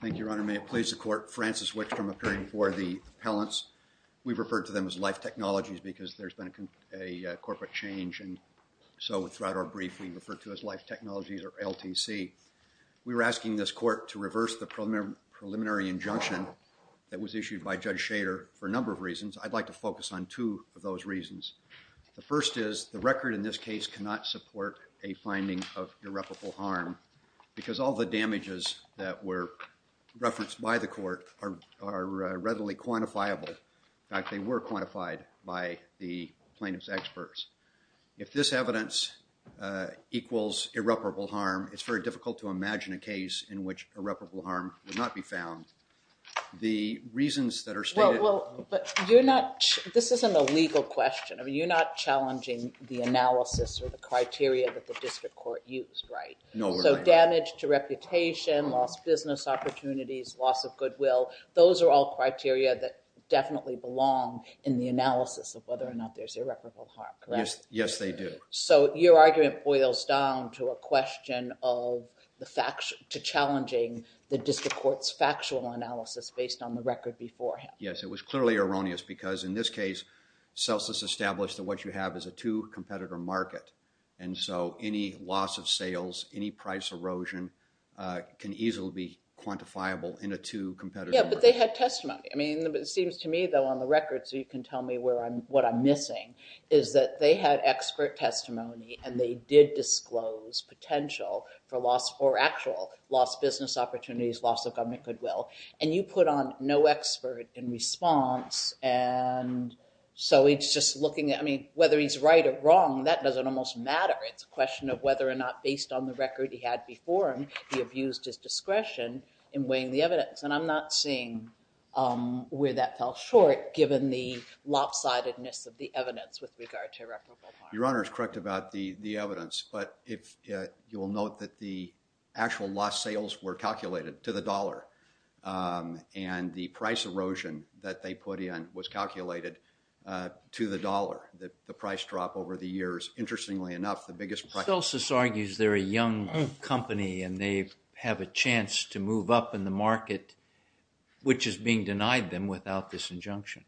Thank you, Your Honor. May it please the court, Francis Wickstrom appearing before the appellants. We've referred to them as Life Technologies because there's been a corporate change and so throughout our brief we refer to as Life Technologies or LTC. We were asking this court to reverse the preliminary injunction that was issued by Judge Shader for a number of reasons. I'd like to focus on two of those reasons. The first is the record in this case cannot support a damages that were referenced by the court are readily quantifiable. In fact, they were quantified by the plaintiff's experts. If this evidence equals irreparable harm, it's very difficult to imagine a case in which irreparable harm would not be found. The reasons that are stated... Well, but you're not... this isn't a legal question. I mean, you're not challenging the analysis or the qualification, lost business opportunities, loss of goodwill. Those are all criteria that definitely belong in the analysis of whether or not there's irreparable harm, correct? Yes, yes they do. So your argument boils down to a question of the facts to challenging the district court's factual analysis based on the record beforehand. Yes, it was clearly erroneous because in this case CELSIS established that what you have is a two competitor market and so any loss of goodwill can easily be quantifiable in a two competitor market. Yeah, but they had testimony. I mean, it seems to me though on the record, so you can tell me where I'm... what I'm missing, is that they had expert testimony and they did disclose potential for loss or actual lost business opportunities, loss of government goodwill, and you put on no expert in response and so it's just looking at... I mean, whether he's right or wrong, that doesn't almost matter. It's a question of whether or not based on the discretion in weighing the evidence and I'm not seeing where that fell short given the lopsidedness of the evidence with regard to irreparable harm. Your honor is correct about the the evidence, but if you will note that the actual lost sales were calculated to the dollar and the price erosion that they put in was calculated to the dollar, that the price drop over the years. Interestingly enough, the biggest price... and they have a chance to move up in the market, which is being denied them without this injunction.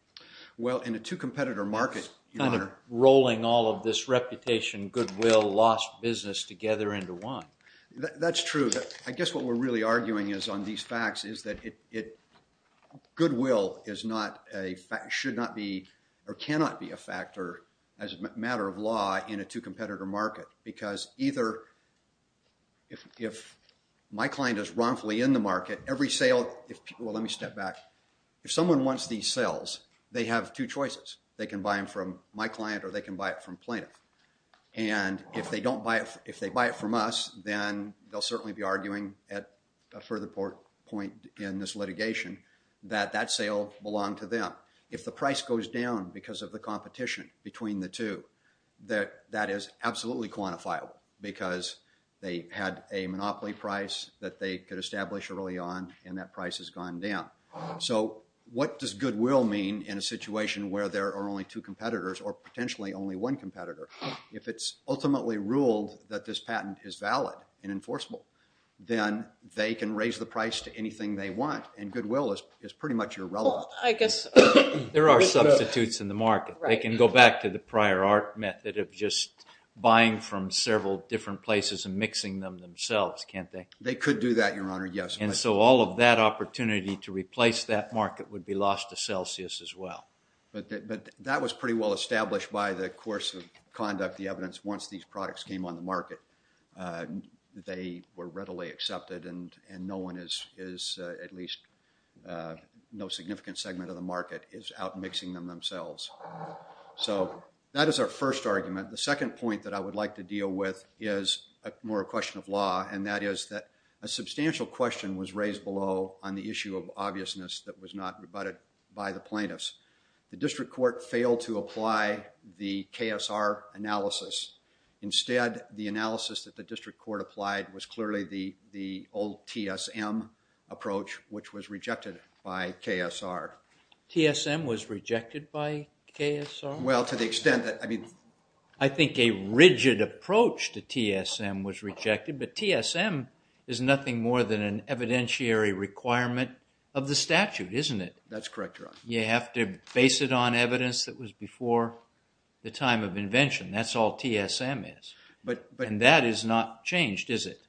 Well, in a two competitor market... Kind of rolling all of this reputation goodwill lost business together into one. That's true. I guess what we're really arguing is on these facts is that it... goodwill is not a fact... should not be or cannot be a factor as a matter of law in a two My client is wrongfully in the market. Every sale... Well, let me step back. If someone wants these sales, they have two choices. They can buy them from my client or they can buy it from plaintiff and if they don't buy it... if they buy it from us, then they'll certainly be arguing at a further point in this litigation that that sale belonged to them. If the price goes down because of the competition between the two, that is absolutely quantifiable because they had a monopoly price that they could establish early on and that price has gone down. So what does goodwill mean in a situation where there are only two competitors or potentially only one competitor? If it's ultimately ruled that this patent is valid and enforceable, then they can raise the price to anything they want and goodwill is pretty much irrelevant. I guess there are substitutes in the market. They can go back to the prior art method of just mixing them themselves, can't they? They could do that, your honor, yes. And so all of that opportunity to replace that market would be lost to Celsius as well. But that was pretty well established by the course of conduct, the evidence. Once these products came on the market, they were readily accepted and no one is, at least no significant segment of the market, is out mixing them themselves. So that is our first argument. The second point that I would like to make is a question of law and that is that a substantial question was raised below on the issue of obviousness that was not rebutted by the plaintiffs. The district court failed to apply the KSR analysis. Instead, the analysis that the district court applied was clearly the old TSM approach, which was rejected by KSR. TSM was rejected by KSR? Well, to the extent that, I mean, I think a rigid approach to TSM was rejected, but TSM is nothing more than an evidentiary requirement of the statute, isn't it? That's correct, your honor. You have to base it on evidence that was before the time of invention. That's all TSM is. But, but, and that is not changed, is it?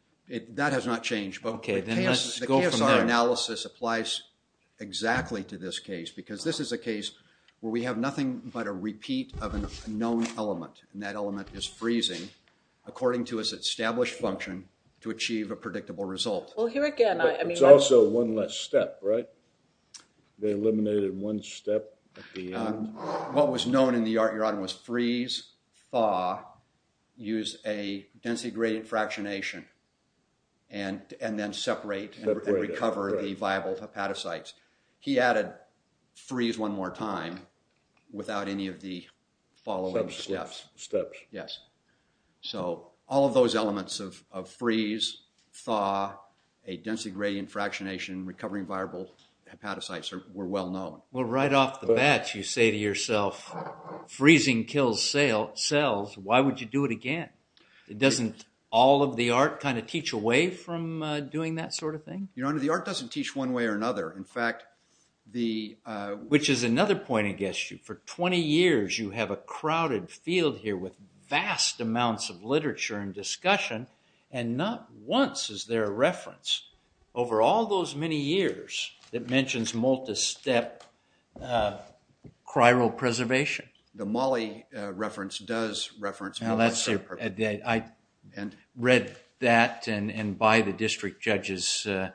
That has not changed, but the KSR analysis applies exactly to this case because this is a case where we have nothing but a repeat of a known element and that element is freezing according to its established function to achieve a predictable result. Well, here again, I mean, It's also one less step, right? They eliminated one step at the end? What was known in the art, your honor, was freeze, thaw, use a density-graded fractionation, and, and then separate and recover the viable hepatocytes. He added freeze one more time without any of the following steps. Steps. Yes. So, all of those elements of freeze, thaw, a density-graded fractionation, recovering viable hepatocytes were well known. Well, right off the bat, you say to yourself, freezing kills cells, why would you do it again? Doesn't all of the art kind of teach away from doing that sort of thing? Your honor, the art doesn't teach one way or the, which is another point I guess you, for 20 years you have a crowded field here with vast amounts of literature and discussion and not once is there a reference over all those many years that mentions multistep chiral preservation. The Molle reference does reference... I read that and by the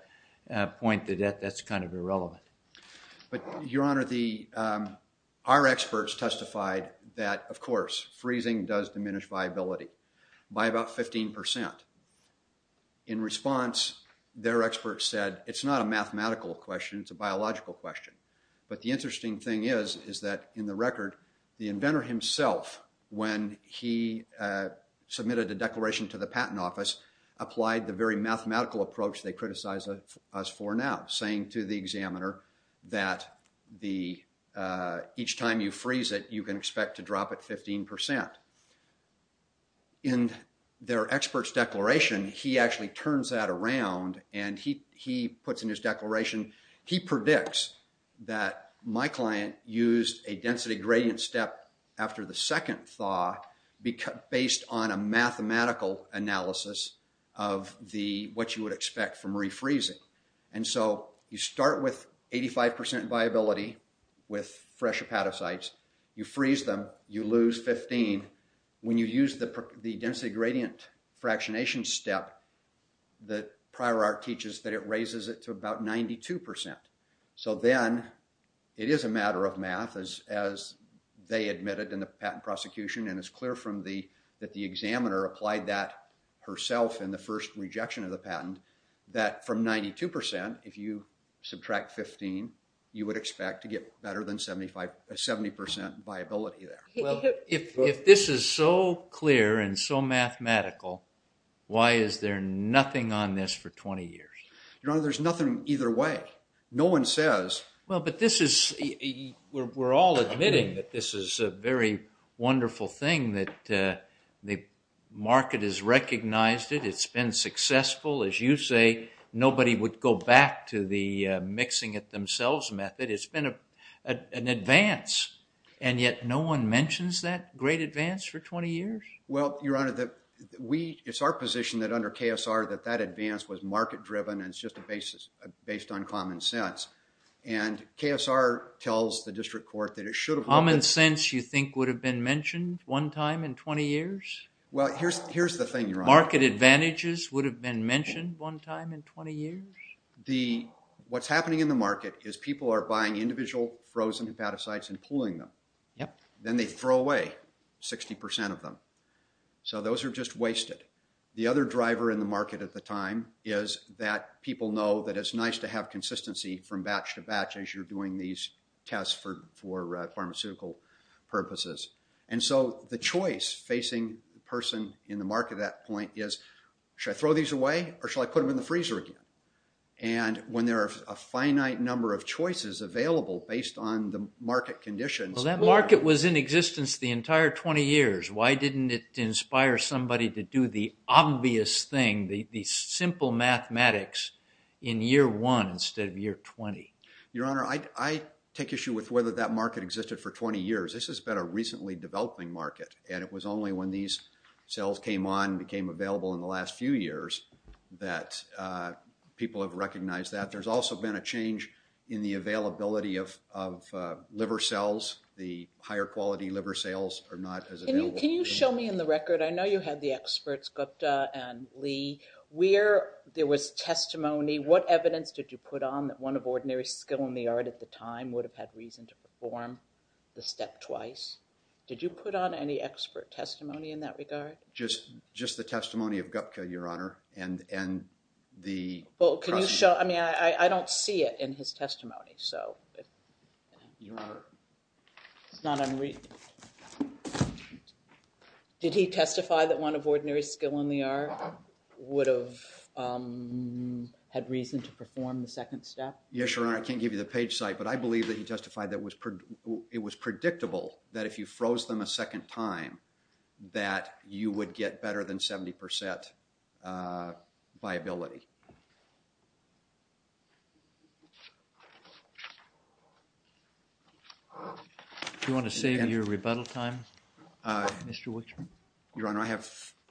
But, your honor, the, our experts testified that, of course, freezing does diminish viability by about 15%. In response, their experts said it's not a mathematical question, it's a biological question, but the interesting thing is, is that in the record, the inventor himself, when he submitted a declaration to the patent office, applied the very mathematical approach they criticize us for now, saying to the examiner that the, each time you freeze it you can expect to drop it 15%. In their experts declaration, he actually turns that around and he, he puts in his declaration, he predicts that my client used a density gradient step after the second thaw based on a mathematical analysis of the, what you would expect from refreezing. And so you start with 85% viability with fresh hepatocytes, you freeze them, you lose 15. When you use the density gradient fractionation step, the prior art teaches that it raises it to about 92%. So then, it is a matter of math as they admitted in the patent prosecution, and it's clear from the, that the examiner applied that herself in the first rejection of the patent, that from 92%, if you subtract 15, you would expect to get better than 75, 70% viability there. Well, if this is so clear and so mathematical, why is there nothing on this for 20 years? Your Honor, there's nothing either way. No one says... Well, but this is, we're all admitting that this is a very wonderful thing, that the market has recognized it, it's been successful. As you say, nobody would go back to the mixing-it-themselves method. It's been an advance, and yet no one mentions that great advance for 20 years? Well, Your Honor, that we, it's our position that under KSR, that that advance was market driven, and it's just a basis, based on common sense. And KSR tells the district court that it should have... Common sense, you think, would have been mentioned one time in 20 years? Well, here's, here's the thing, Your Honor. Market advantages would have been mentioned one time in 20 years? The, what's happening in the market is people are buying individual frozen hepatocytes and pulling them. Yep. Then they throw away 60% of them. So those are just wasted. The other driver in the market at the time is that people know that it's nice to have consistency from these tests for, for pharmaceutical purposes. And so the choice facing the person in the market at that point is, should I throw these away, or should I put them in the freezer again? And when there are a finite number of choices available based on the market conditions... Well, that market was in existence the entire 20 years. Why didn't it inspire somebody to do the obvious thing, the I take issue with whether that market existed for 20 years. This has been a recently developing market, and it was only when these cells came on, became available in the last few years, that people have recognized that. There's also been a change in the availability of liver cells. The higher quality liver cells are not as available. Can you show me in the record, I know you had the experts, Gupta and Lee, where there was testimony. What evidence did you put on that one of had reason to perform the step twice? Did you put on any expert testimony in that regard? Just, just the testimony of Gupta, Your Honor, and, and the... Well, can you show, I mean, I, I don't see it in his testimony, so... Your Honor... It's not unread. Did he testify that one of ordinary skill in the art would have had reason to perform the second step? Yes, Your Honor, I can't give you the page site, but I believe that he testified that was, it was predictable that if you froze them a second time, that you would get better than 70 percent viability. Do you want to save your rebuttal time, Mr. Wicks? Your Honor, I have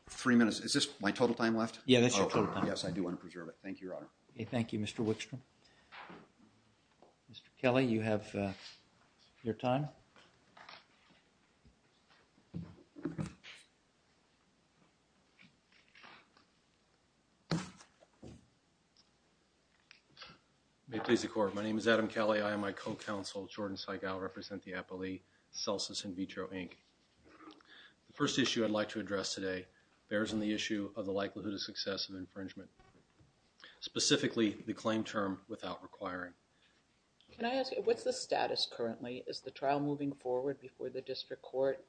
three minutes. Is this my total time left? Yeah, that's your total time. Yes, I do want to preserve it. Thank you, Your Honor. Thank you, Mr. Wicks. Mr. Kelly, you have your time. May it please the Court, my name is Adam Kelly. I am my co-counsel, Jordan Seigal, represent the Apo Lee, Celsus In Vitro, Inc. The first issue I'd like to address is the process of infringement. Specifically, the claim term without requiring. Can I ask you, what's the status currently? Is the trial moving forward before the district court?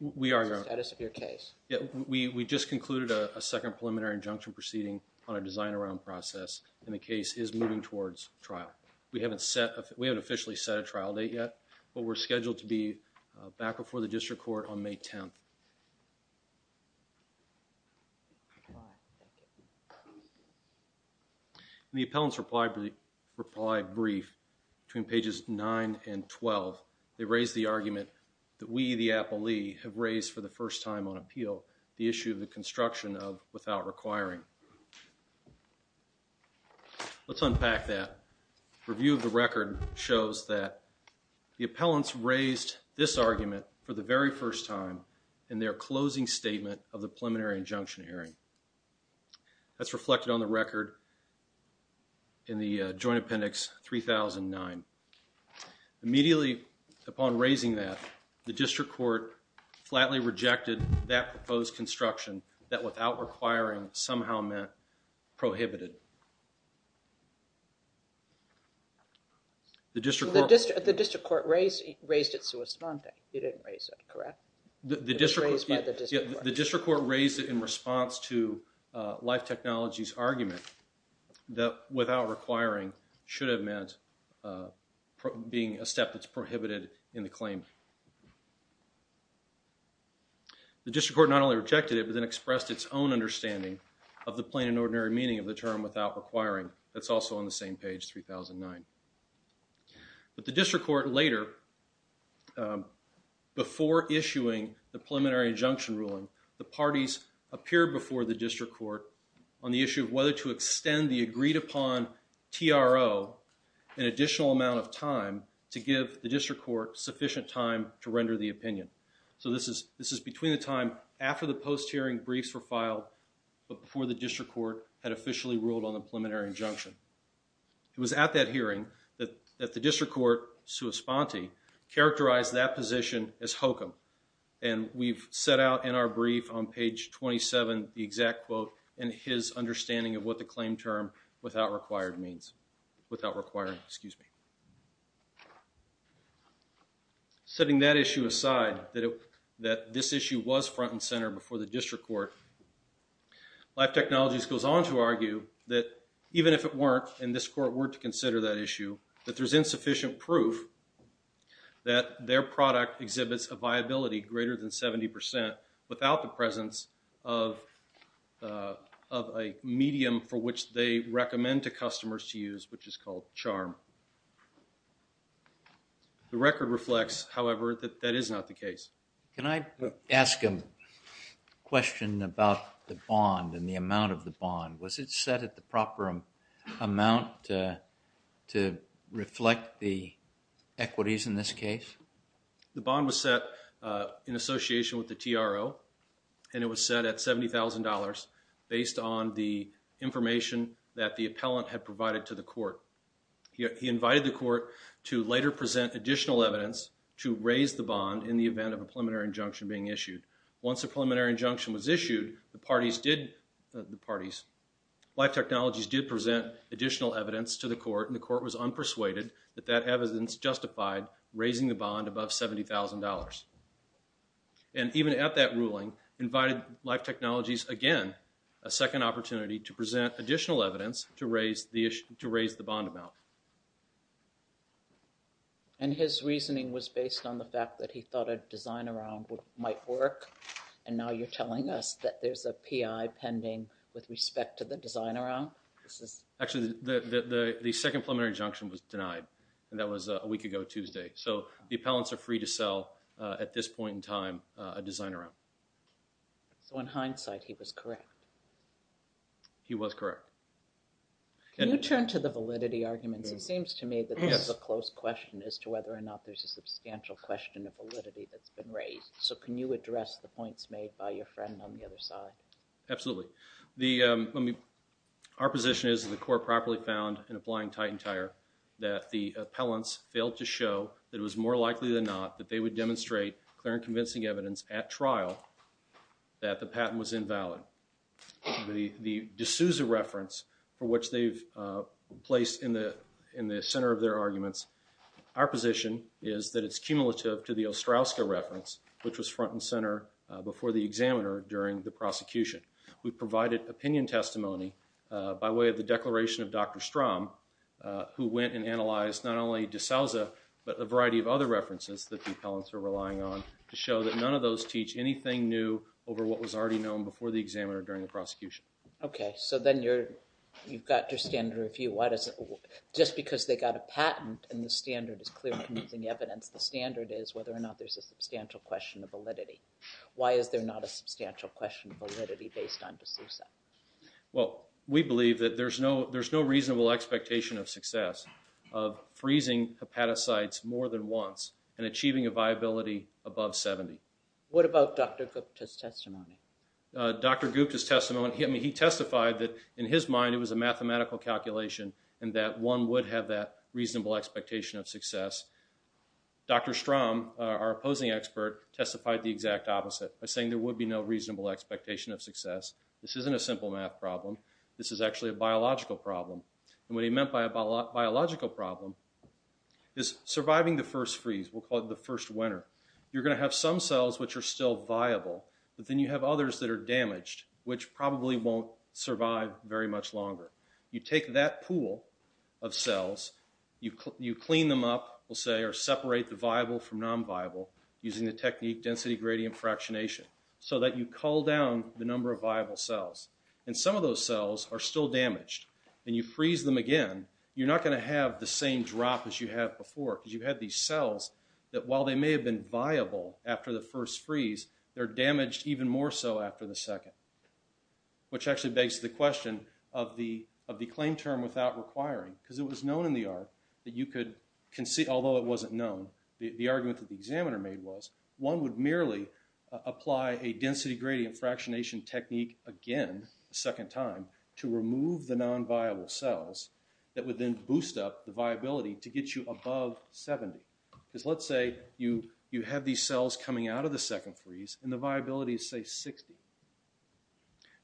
We are, Your Honor. What's the status of your case? Yeah, we just concluded a second preliminary injunction proceeding on a design around process and the case is moving towards trial. We haven't set, we haven't officially set a trial date yet, but we're scheduled to be back before the district court on May 10th. The appellant's reply brief between pages 9 and 12, they raised the argument that we, the Apo Lee, have raised for the first time on appeal, the issue of the construction of without requiring. Let's unpack that. Review of the record shows that the appellant raised the argument for the very first time in their closing statement of the preliminary injunction hearing. That's reflected on the record in the Joint Appendix 3009. Immediately upon raising that, the district court flatly rejected that proposed construction that without requiring somehow meant prohibited. The district court raised it in response to Life Technologies' argument that without requiring should have meant being a step that's prohibited in the claim. The district court not only rejected it, but then expressed its own That's also on the same page, 3009. But the district court later, before issuing the preliminary injunction ruling, the parties appeared before the district court on the issue of whether to extend the agreed upon TRO an additional amount of time to give the district court sufficient time to render the opinion. So this is between the time after the post-hearing briefs were filed, but before the district court had officially ruled on the preliminary injunction. It was at that hearing that the district court, sua sponte, characterized that position as hokum. And we've set out in our brief on page 27 the exact quote and his understanding of what the claim term without requiring means. Setting that issue aside, that this issue was front and center before the district court, Life Technologies goes on to argue that even if it weren't, and this court were to consider that issue, that there's insufficient proof that their product exhibits a viability greater than 70% without the presence of a medium for which they recommend to customers to use, which is called CHARM. The record reflects, however, that that is not the case. Can I ask a question about the bond and the amount of the bond? Was it set at the proper amount to reflect the equities in this case? The bond was set in association with the TRO, and it was set at $70,000 based on the information that the appellant had provided to the court. He invited the court to later present additional evidence to raise the bond in the event of a preliminary injunction being issued. Once a preliminary injunction was issued, Life Technologies did present additional evidence to the court, and the court was unpersuaded that that evidence justified raising the bond above $70,000. And even at that ruling, invited Life Technologies again a second opportunity to present additional evidence to raise the bond amount. And his reasoning was based on the fact that he thought a design around might work, and now you're telling us that there's a PI pending with respect to the design around? Actually, the second preliminary injunction was denied, and that was a week ago Tuesday. So the appellants are free to sell, at this point in time, a design around. So in hindsight, he was correct. He was correct. Can you turn to the validity arguments? It seems to me that this is a close question as to whether or not there's a substantial question of validity that's been raised. So can you address the points made by your friend on the other side? Absolutely. Our position is that the court properly found in applying Titan Tire that the appellants failed to show that it was more likely than not that they would demonstrate clear and convincing evidence at trial that the patent was invalid. The D'Souza reference, for which they've placed in the center of their arguments, our position is that it's cumulative to the Ostrowska reference, which was front and center before the examiner during the prosecution. We provided opinion testimony by way of the declaration of Dr. Strom, who went and analyzed not only D'Souza, but a variety of other references that the appellants are relying on to show that none of those teach anything new over what was already known before the examiner during the prosecution. Okay, so then you've got your standard of view. Just because they got a patent and the standard is clear and convincing evidence, the standard is whether or not there's a substantial question of validity. Why is there not a substantial question of validity based on D'Souza? Well, we believe that there's no reasonable expectation of success of freezing hepatocytes more than once and achieving a viability above 70. What about Dr. Gupta's testimony? Dr. Gupta's testimony, he testified that in his mind it was a mathematical calculation and that one would have that reasonable expectation of success. Dr. Strom, our opposing expert, testified the exact opposite by saying there would be no reasonable expectation of success. This isn't a simple math problem. This is actually a biological problem. And what he meant by a biological problem is surviving the first freeze. We'll call it the first winter. You're going to have some cells which are still viable, but then you have others that are damaged, which probably won't survive very much longer. You take that pool of cells, you clean them up, we'll say, or separate the viable from non-viable using the technique density gradient fractionation, so that you cull down the number of viable cells. And some of those cells are still damaged, and you freeze them again, you're not going to have the same drop as you had before, because you've had these cells that while they may have been viable after the first freeze, they're damaged even more so after the second. Which actually begs the question of the claim term without requiring, because it was known in the art that you could, although it wasn't known, the argument that the examiner made was, one would merely apply a density gradient fractionation technique again a second time to remove the non-viable cells that would then boost up the viability to get you above 70. Because let's say you have these cells coming out of the second freeze, and the viability is say 60.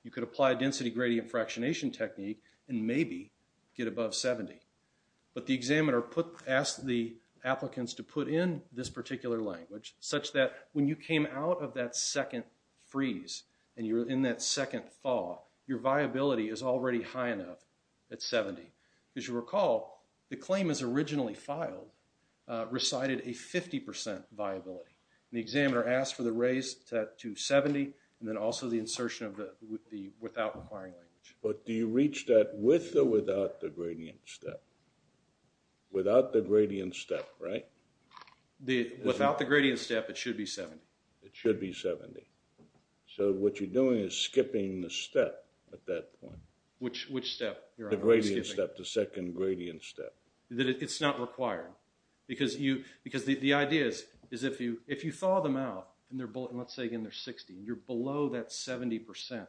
You could apply a density gradient fractionation technique and maybe get above 70. But the examiner asked the applicants to put in this particular language such that when you came out of that second freeze, and you're in that second thaw, your viability is already high enough at 70. As you recall, the claim as originally filed recited a 50% viability. And the examiner asked for the raise to 70, and then also the insertion of the without requiring language. But do you reach that with or without the gradient step? Without the gradient step, right? Without the gradient step, it should be 70. It should be 70. So what you're doing is skipping the step at that point. Which step? The gradient step, the second gradient step. It's not required. Because the idea is if you thaw them out, and let's say again they're 60, you're below that 70%.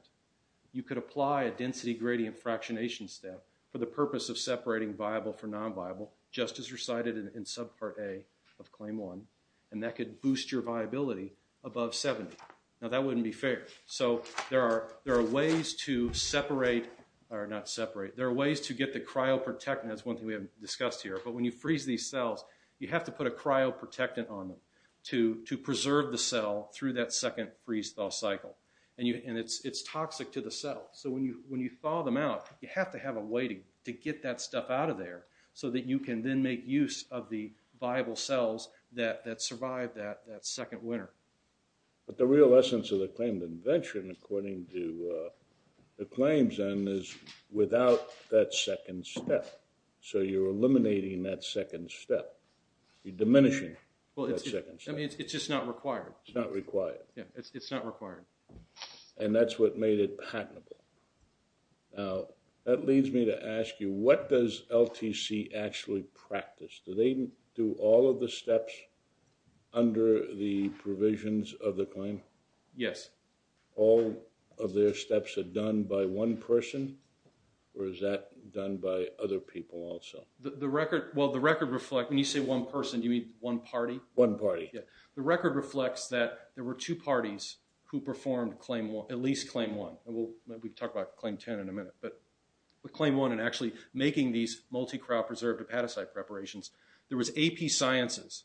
You could apply a density gradient fractionation step for the purpose of separating viable from non-viable, just as recited in subpart A of claim one. And that could boost your viability above 70. Now that wouldn't be fair. So there are ways to separate, or not separate, there are ways to get the cryoprotectant, that's one thing we haven't discussed here. But when you freeze these cells, you have to put a cryoprotectant on them to preserve the cell through that second freeze-thaw cycle. And it's toxic to the cell. So when you thaw them out, you have to have a way to get that stuff out of there so that you can then make use of the viable cells that survive that second winter. But the real essence of the claimed invention according to the claims then is without that second step. So you're eliminating that second step. You're diminishing that second step. It's just not required. It's not required. And that's what made it patentable. Now that leads me to ask you, what does LTC actually practice? Do they do all of the steps under the provisions of the claim? All of their steps are done by one person? Or is that done by other people also? The record, well the record reflects, when you say one person, do you mean one party? One party. The record reflects that there were two parties who performed claim one, at least claim one. We'll talk about claim ten in a minute. But with claim one and actually making these multi-crop preserved hepatocyte preparations, there was AP Sciences,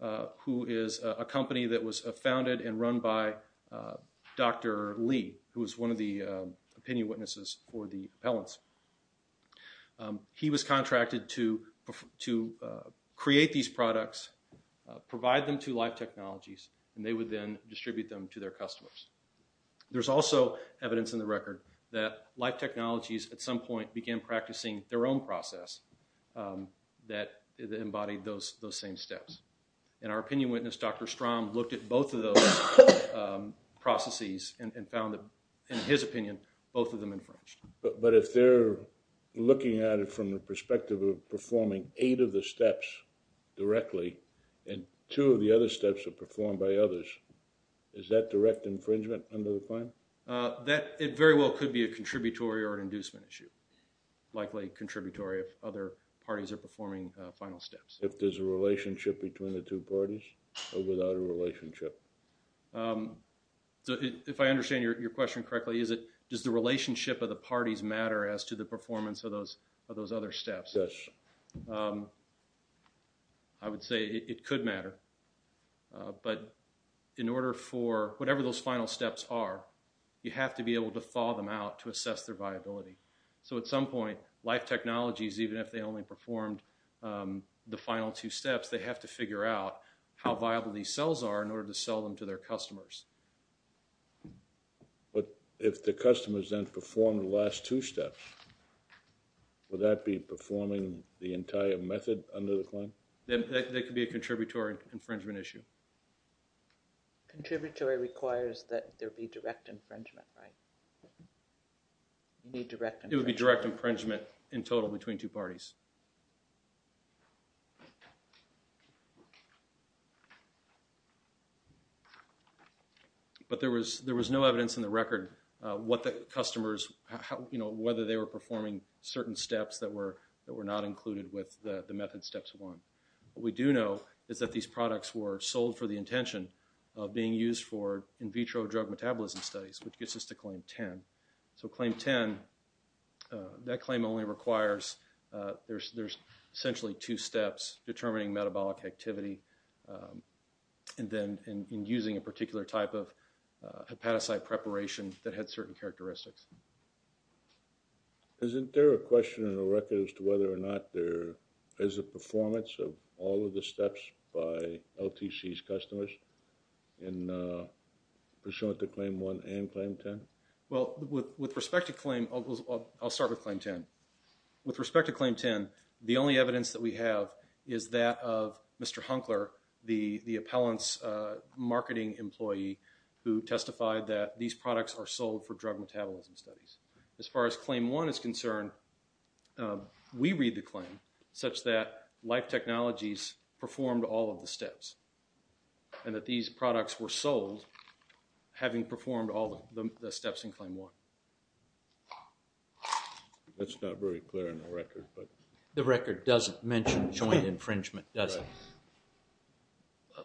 who is a company that was founded and run by Dr. Lee, who was one of the opinion witnesses for the appellants. He was contracted to create these products, provide them to Life Technologies, and they would then distribute them to their customers. There's also evidence in the record that Life Technologies at some point began practicing their own process that embodied those same steps. And our opinion witness, Dr. Strom, looked at both of those processes and found that, in his opinion, both of them infringed. But if they're looking at it from the perspective of performing eight of the steps directly, and two of the other steps are performed by others, is that direct infringement under the claim? That very well could be a contributory or an inducement issue. Likely contributory if other parties are performing final steps. If there's a relationship between the two parties, or without a relationship? If I understand your question correctly, does the relationship of the parties matter as to the performance of those other steps? Yes. I would say it could matter. But in order for whatever those final steps are, you have to be able to thaw them out to assess their viability. So at some point, Life Technologies, even if they only performed the final two steps, they have to figure out how viable these cells are in order to sell them to their customers. But if the customers then perform the last two steps, would that be performing the entire method under the claim? That could be a contributory infringement issue. Contributory requires that there be direct infringement, right? It would be direct infringement in total between two parties. But there was no evidence in the record whether they were performing certain steps that were not included with the method steps one. What we do know is that these products were sold for the intention of being used for in vitro drug metabolism studies, which gets us to claim 10. With claim 10, that claim only requires, there's essentially two steps, determining metabolic activity and then using a particular type of hepatocyte preparation that had certain characteristics. Isn't there a question in the record as to whether or not there is a performance of all of the steps by LTC's customers in pursuant to claim one and claim 10? Well, with respect to claim, I'll start with claim 10. With respect to claim 10, the only evidence that we have is that of Mr. Hunkler, the appellant's marketing employee who testified that these products are sold for drug metabolism studies. As far as claim one is concerned, we read the claim such that Life Technologies performed all of the steps and that these products were sold having performed all of the steps in claim one. The record doesn't mention joint infringement, does it?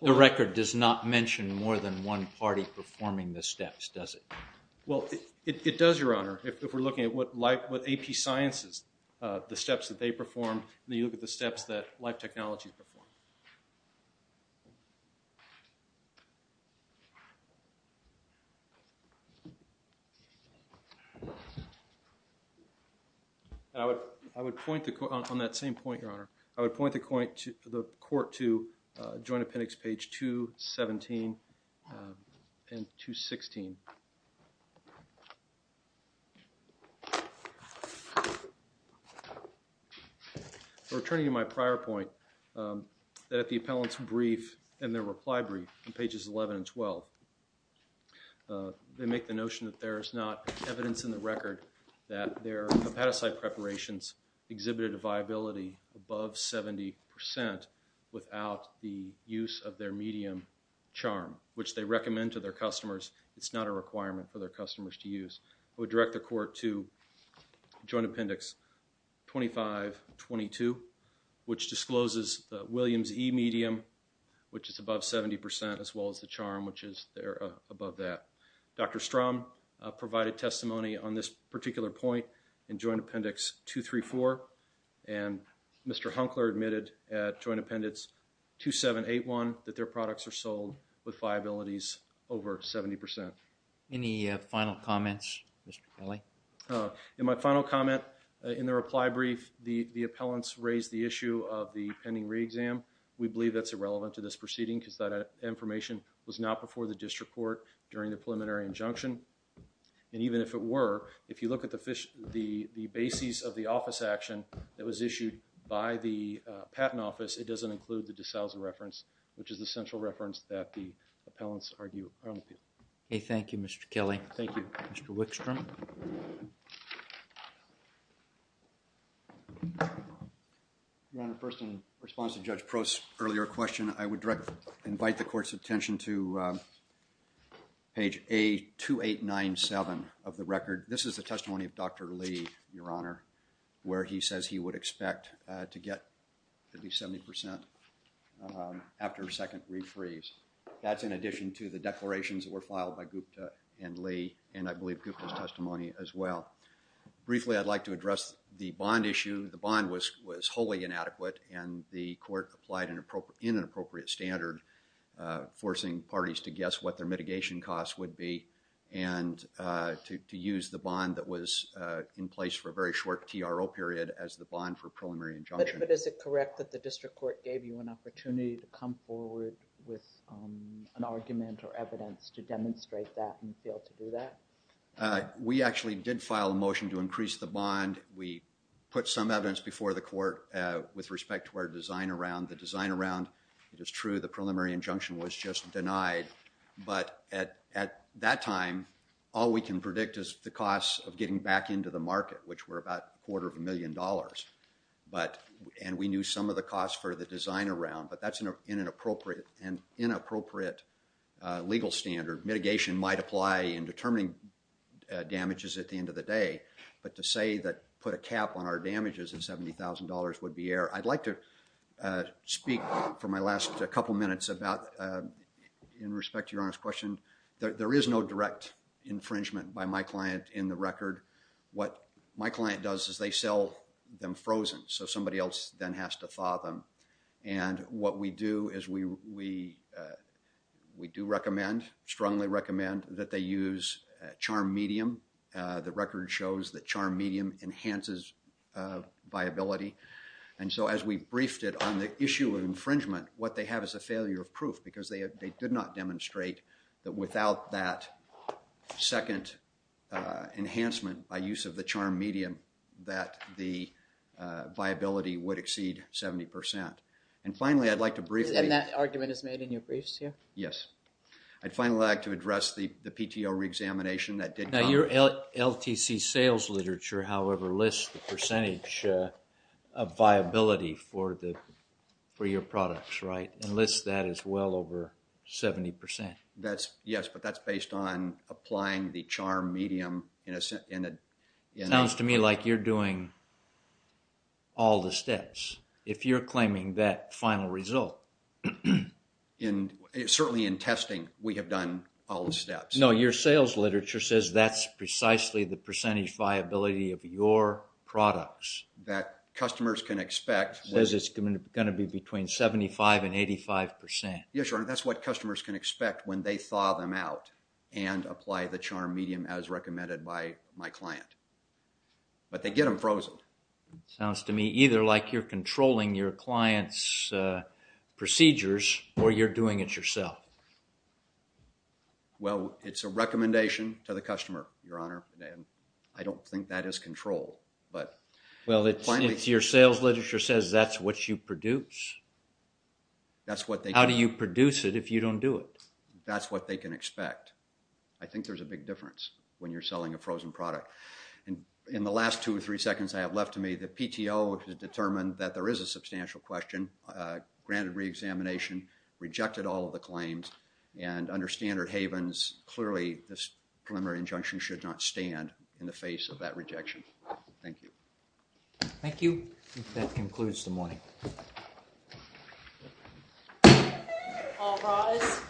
The record does not mention more than one party performing the steps, does it? Well, it does, Your Honor, if we're looking at what AP Sciences, the steps that they performed, and then you look at the steps that Life Technologies performed. I would point the court on that same point, Your Honor. I would point the court to Joint Appendix page 217 and 216. Returning to my prior point, that the appellant's brief and their reply brief in pages 11 and 12, they make the notion that there is not evidence in the record that their hepatocyte preparations exhibited a viability above 70% without the use of their medium charm, which they recommend to their customers. It's not a requirement for their customers to use. I would direct the court to Joint Appendix 2522, which discloses the Williams E medium, which is above 70%, as well as the charm, which is there above that. Dr. Strom provided testimony on this particular point in Joint Appendix 234, and Mr. Hunkler admitted at Joint Appendix 2781 that their products are sold with viabilities over 70%. Any final comments, Mr. Kelly? In my final comment, in the reply brief, the appellants raised the issue of the pending re-exam. We believe that's irrelevant to this proceeding because that information was not before the district court during the preliminary injunction. And even if it were, if you look at the basis of the office action that was issued by the Patent Office, it doesn't include the de Sousa reference, which is the central reference that the appellants argue. Okay, thank you, Mr. Kelly. Thank you. Mr. Wickstrom? Your Honor, first in response to Judge Prost's earlier question, I would direct, invite the court's attention to page A2897 of the record. This is the testimony of Dr. Lee, Your Honor, where he says he would expect to get at least 70% after a second re-freeze. That's in addition to the declarations that were filed by Gupta and Lee, and I believe Gupta's testimony as well. Briefly, I'd like to address the bond issue. The bond was wholly inadequate and the court applied in an appropriate standard, forcing parties to guess what their mitigation costs would be, and to use the bond that was in place for a very short TRO period as the bond for preliminary injunction. But is it correct that the district court gave you an opportunity to come forward with an argument or evidence to demonstrate that and fail to do that? We actually did file a motion to increase the bond. We put some evidence before the court with respect to our design around the design around. It is true the preliminary injunction was just denied, but at that time, all we can predict is the cost of getting back into the market, which were about a quarter of a million dollars, and we knew some of the costs for the design around, but that's in an appropriate and inappropriate legal standard. Mitigation might apply in determining damages at the end of the day, but to say that put a cap on our damages of $70,000 would be error. I'd like to speak for my last couple minutes about, in respect to Your Honor's question, there is no direct infringement by my client in the record. What my client does is they sell them frozen, so somebody else then has to thaw them, and what we do is we do recommend, strongly recommend, that they use charm medium. The record shows that charm medium enhances viability, and so as we briefed it on the issue of infringement, what they have is a failure of proof, because they did not demonstrate that without that second enhancement by use of the charm medium, that the viability would exceed 70%. And finally, I'd like to briefly- And that argument is made in your briefs here? Yes. I'd finally like to address the PTO reexamination that did- Now, your LTC sales literature, however, lists the percentage of viability for your products, right? It lists that as well over 70%. Yes, but that's based on applying the charm medium in a- It sounds to me like you're doing all the steps. If you're claiming that final result- Certainly in testing, we have done all the steps. No, your sales literature says that's precisely the percentage viability of your products. That customers can expect- It says it's going to be between 75% and 85%. Yes, Your Honor, that's what customers can expect when they thaw them out and apply the charm medium as recommended by my client. But they get them frozen. Sounds to me either like you're controlling your client's procedures, or you're doing it yourself. Well, it's a recommendation to the customer, Your Honor, and I don't think that is control, but- Well, it's your sales literature says that's what you produce. That's what they- How do you produce it if you don't do it? That's what they can expect. I think there's a big difference when you're selling a frozen product. And in the last two or three seconds I have left to me, the PTO has determined that there is a substantial question, granted reexamination, rejected all of the claims, and under standard havens, clearly this preliminary injunction should not stand in the face of that rejection. Thank you. Thank you. That concludes the morning. All rise.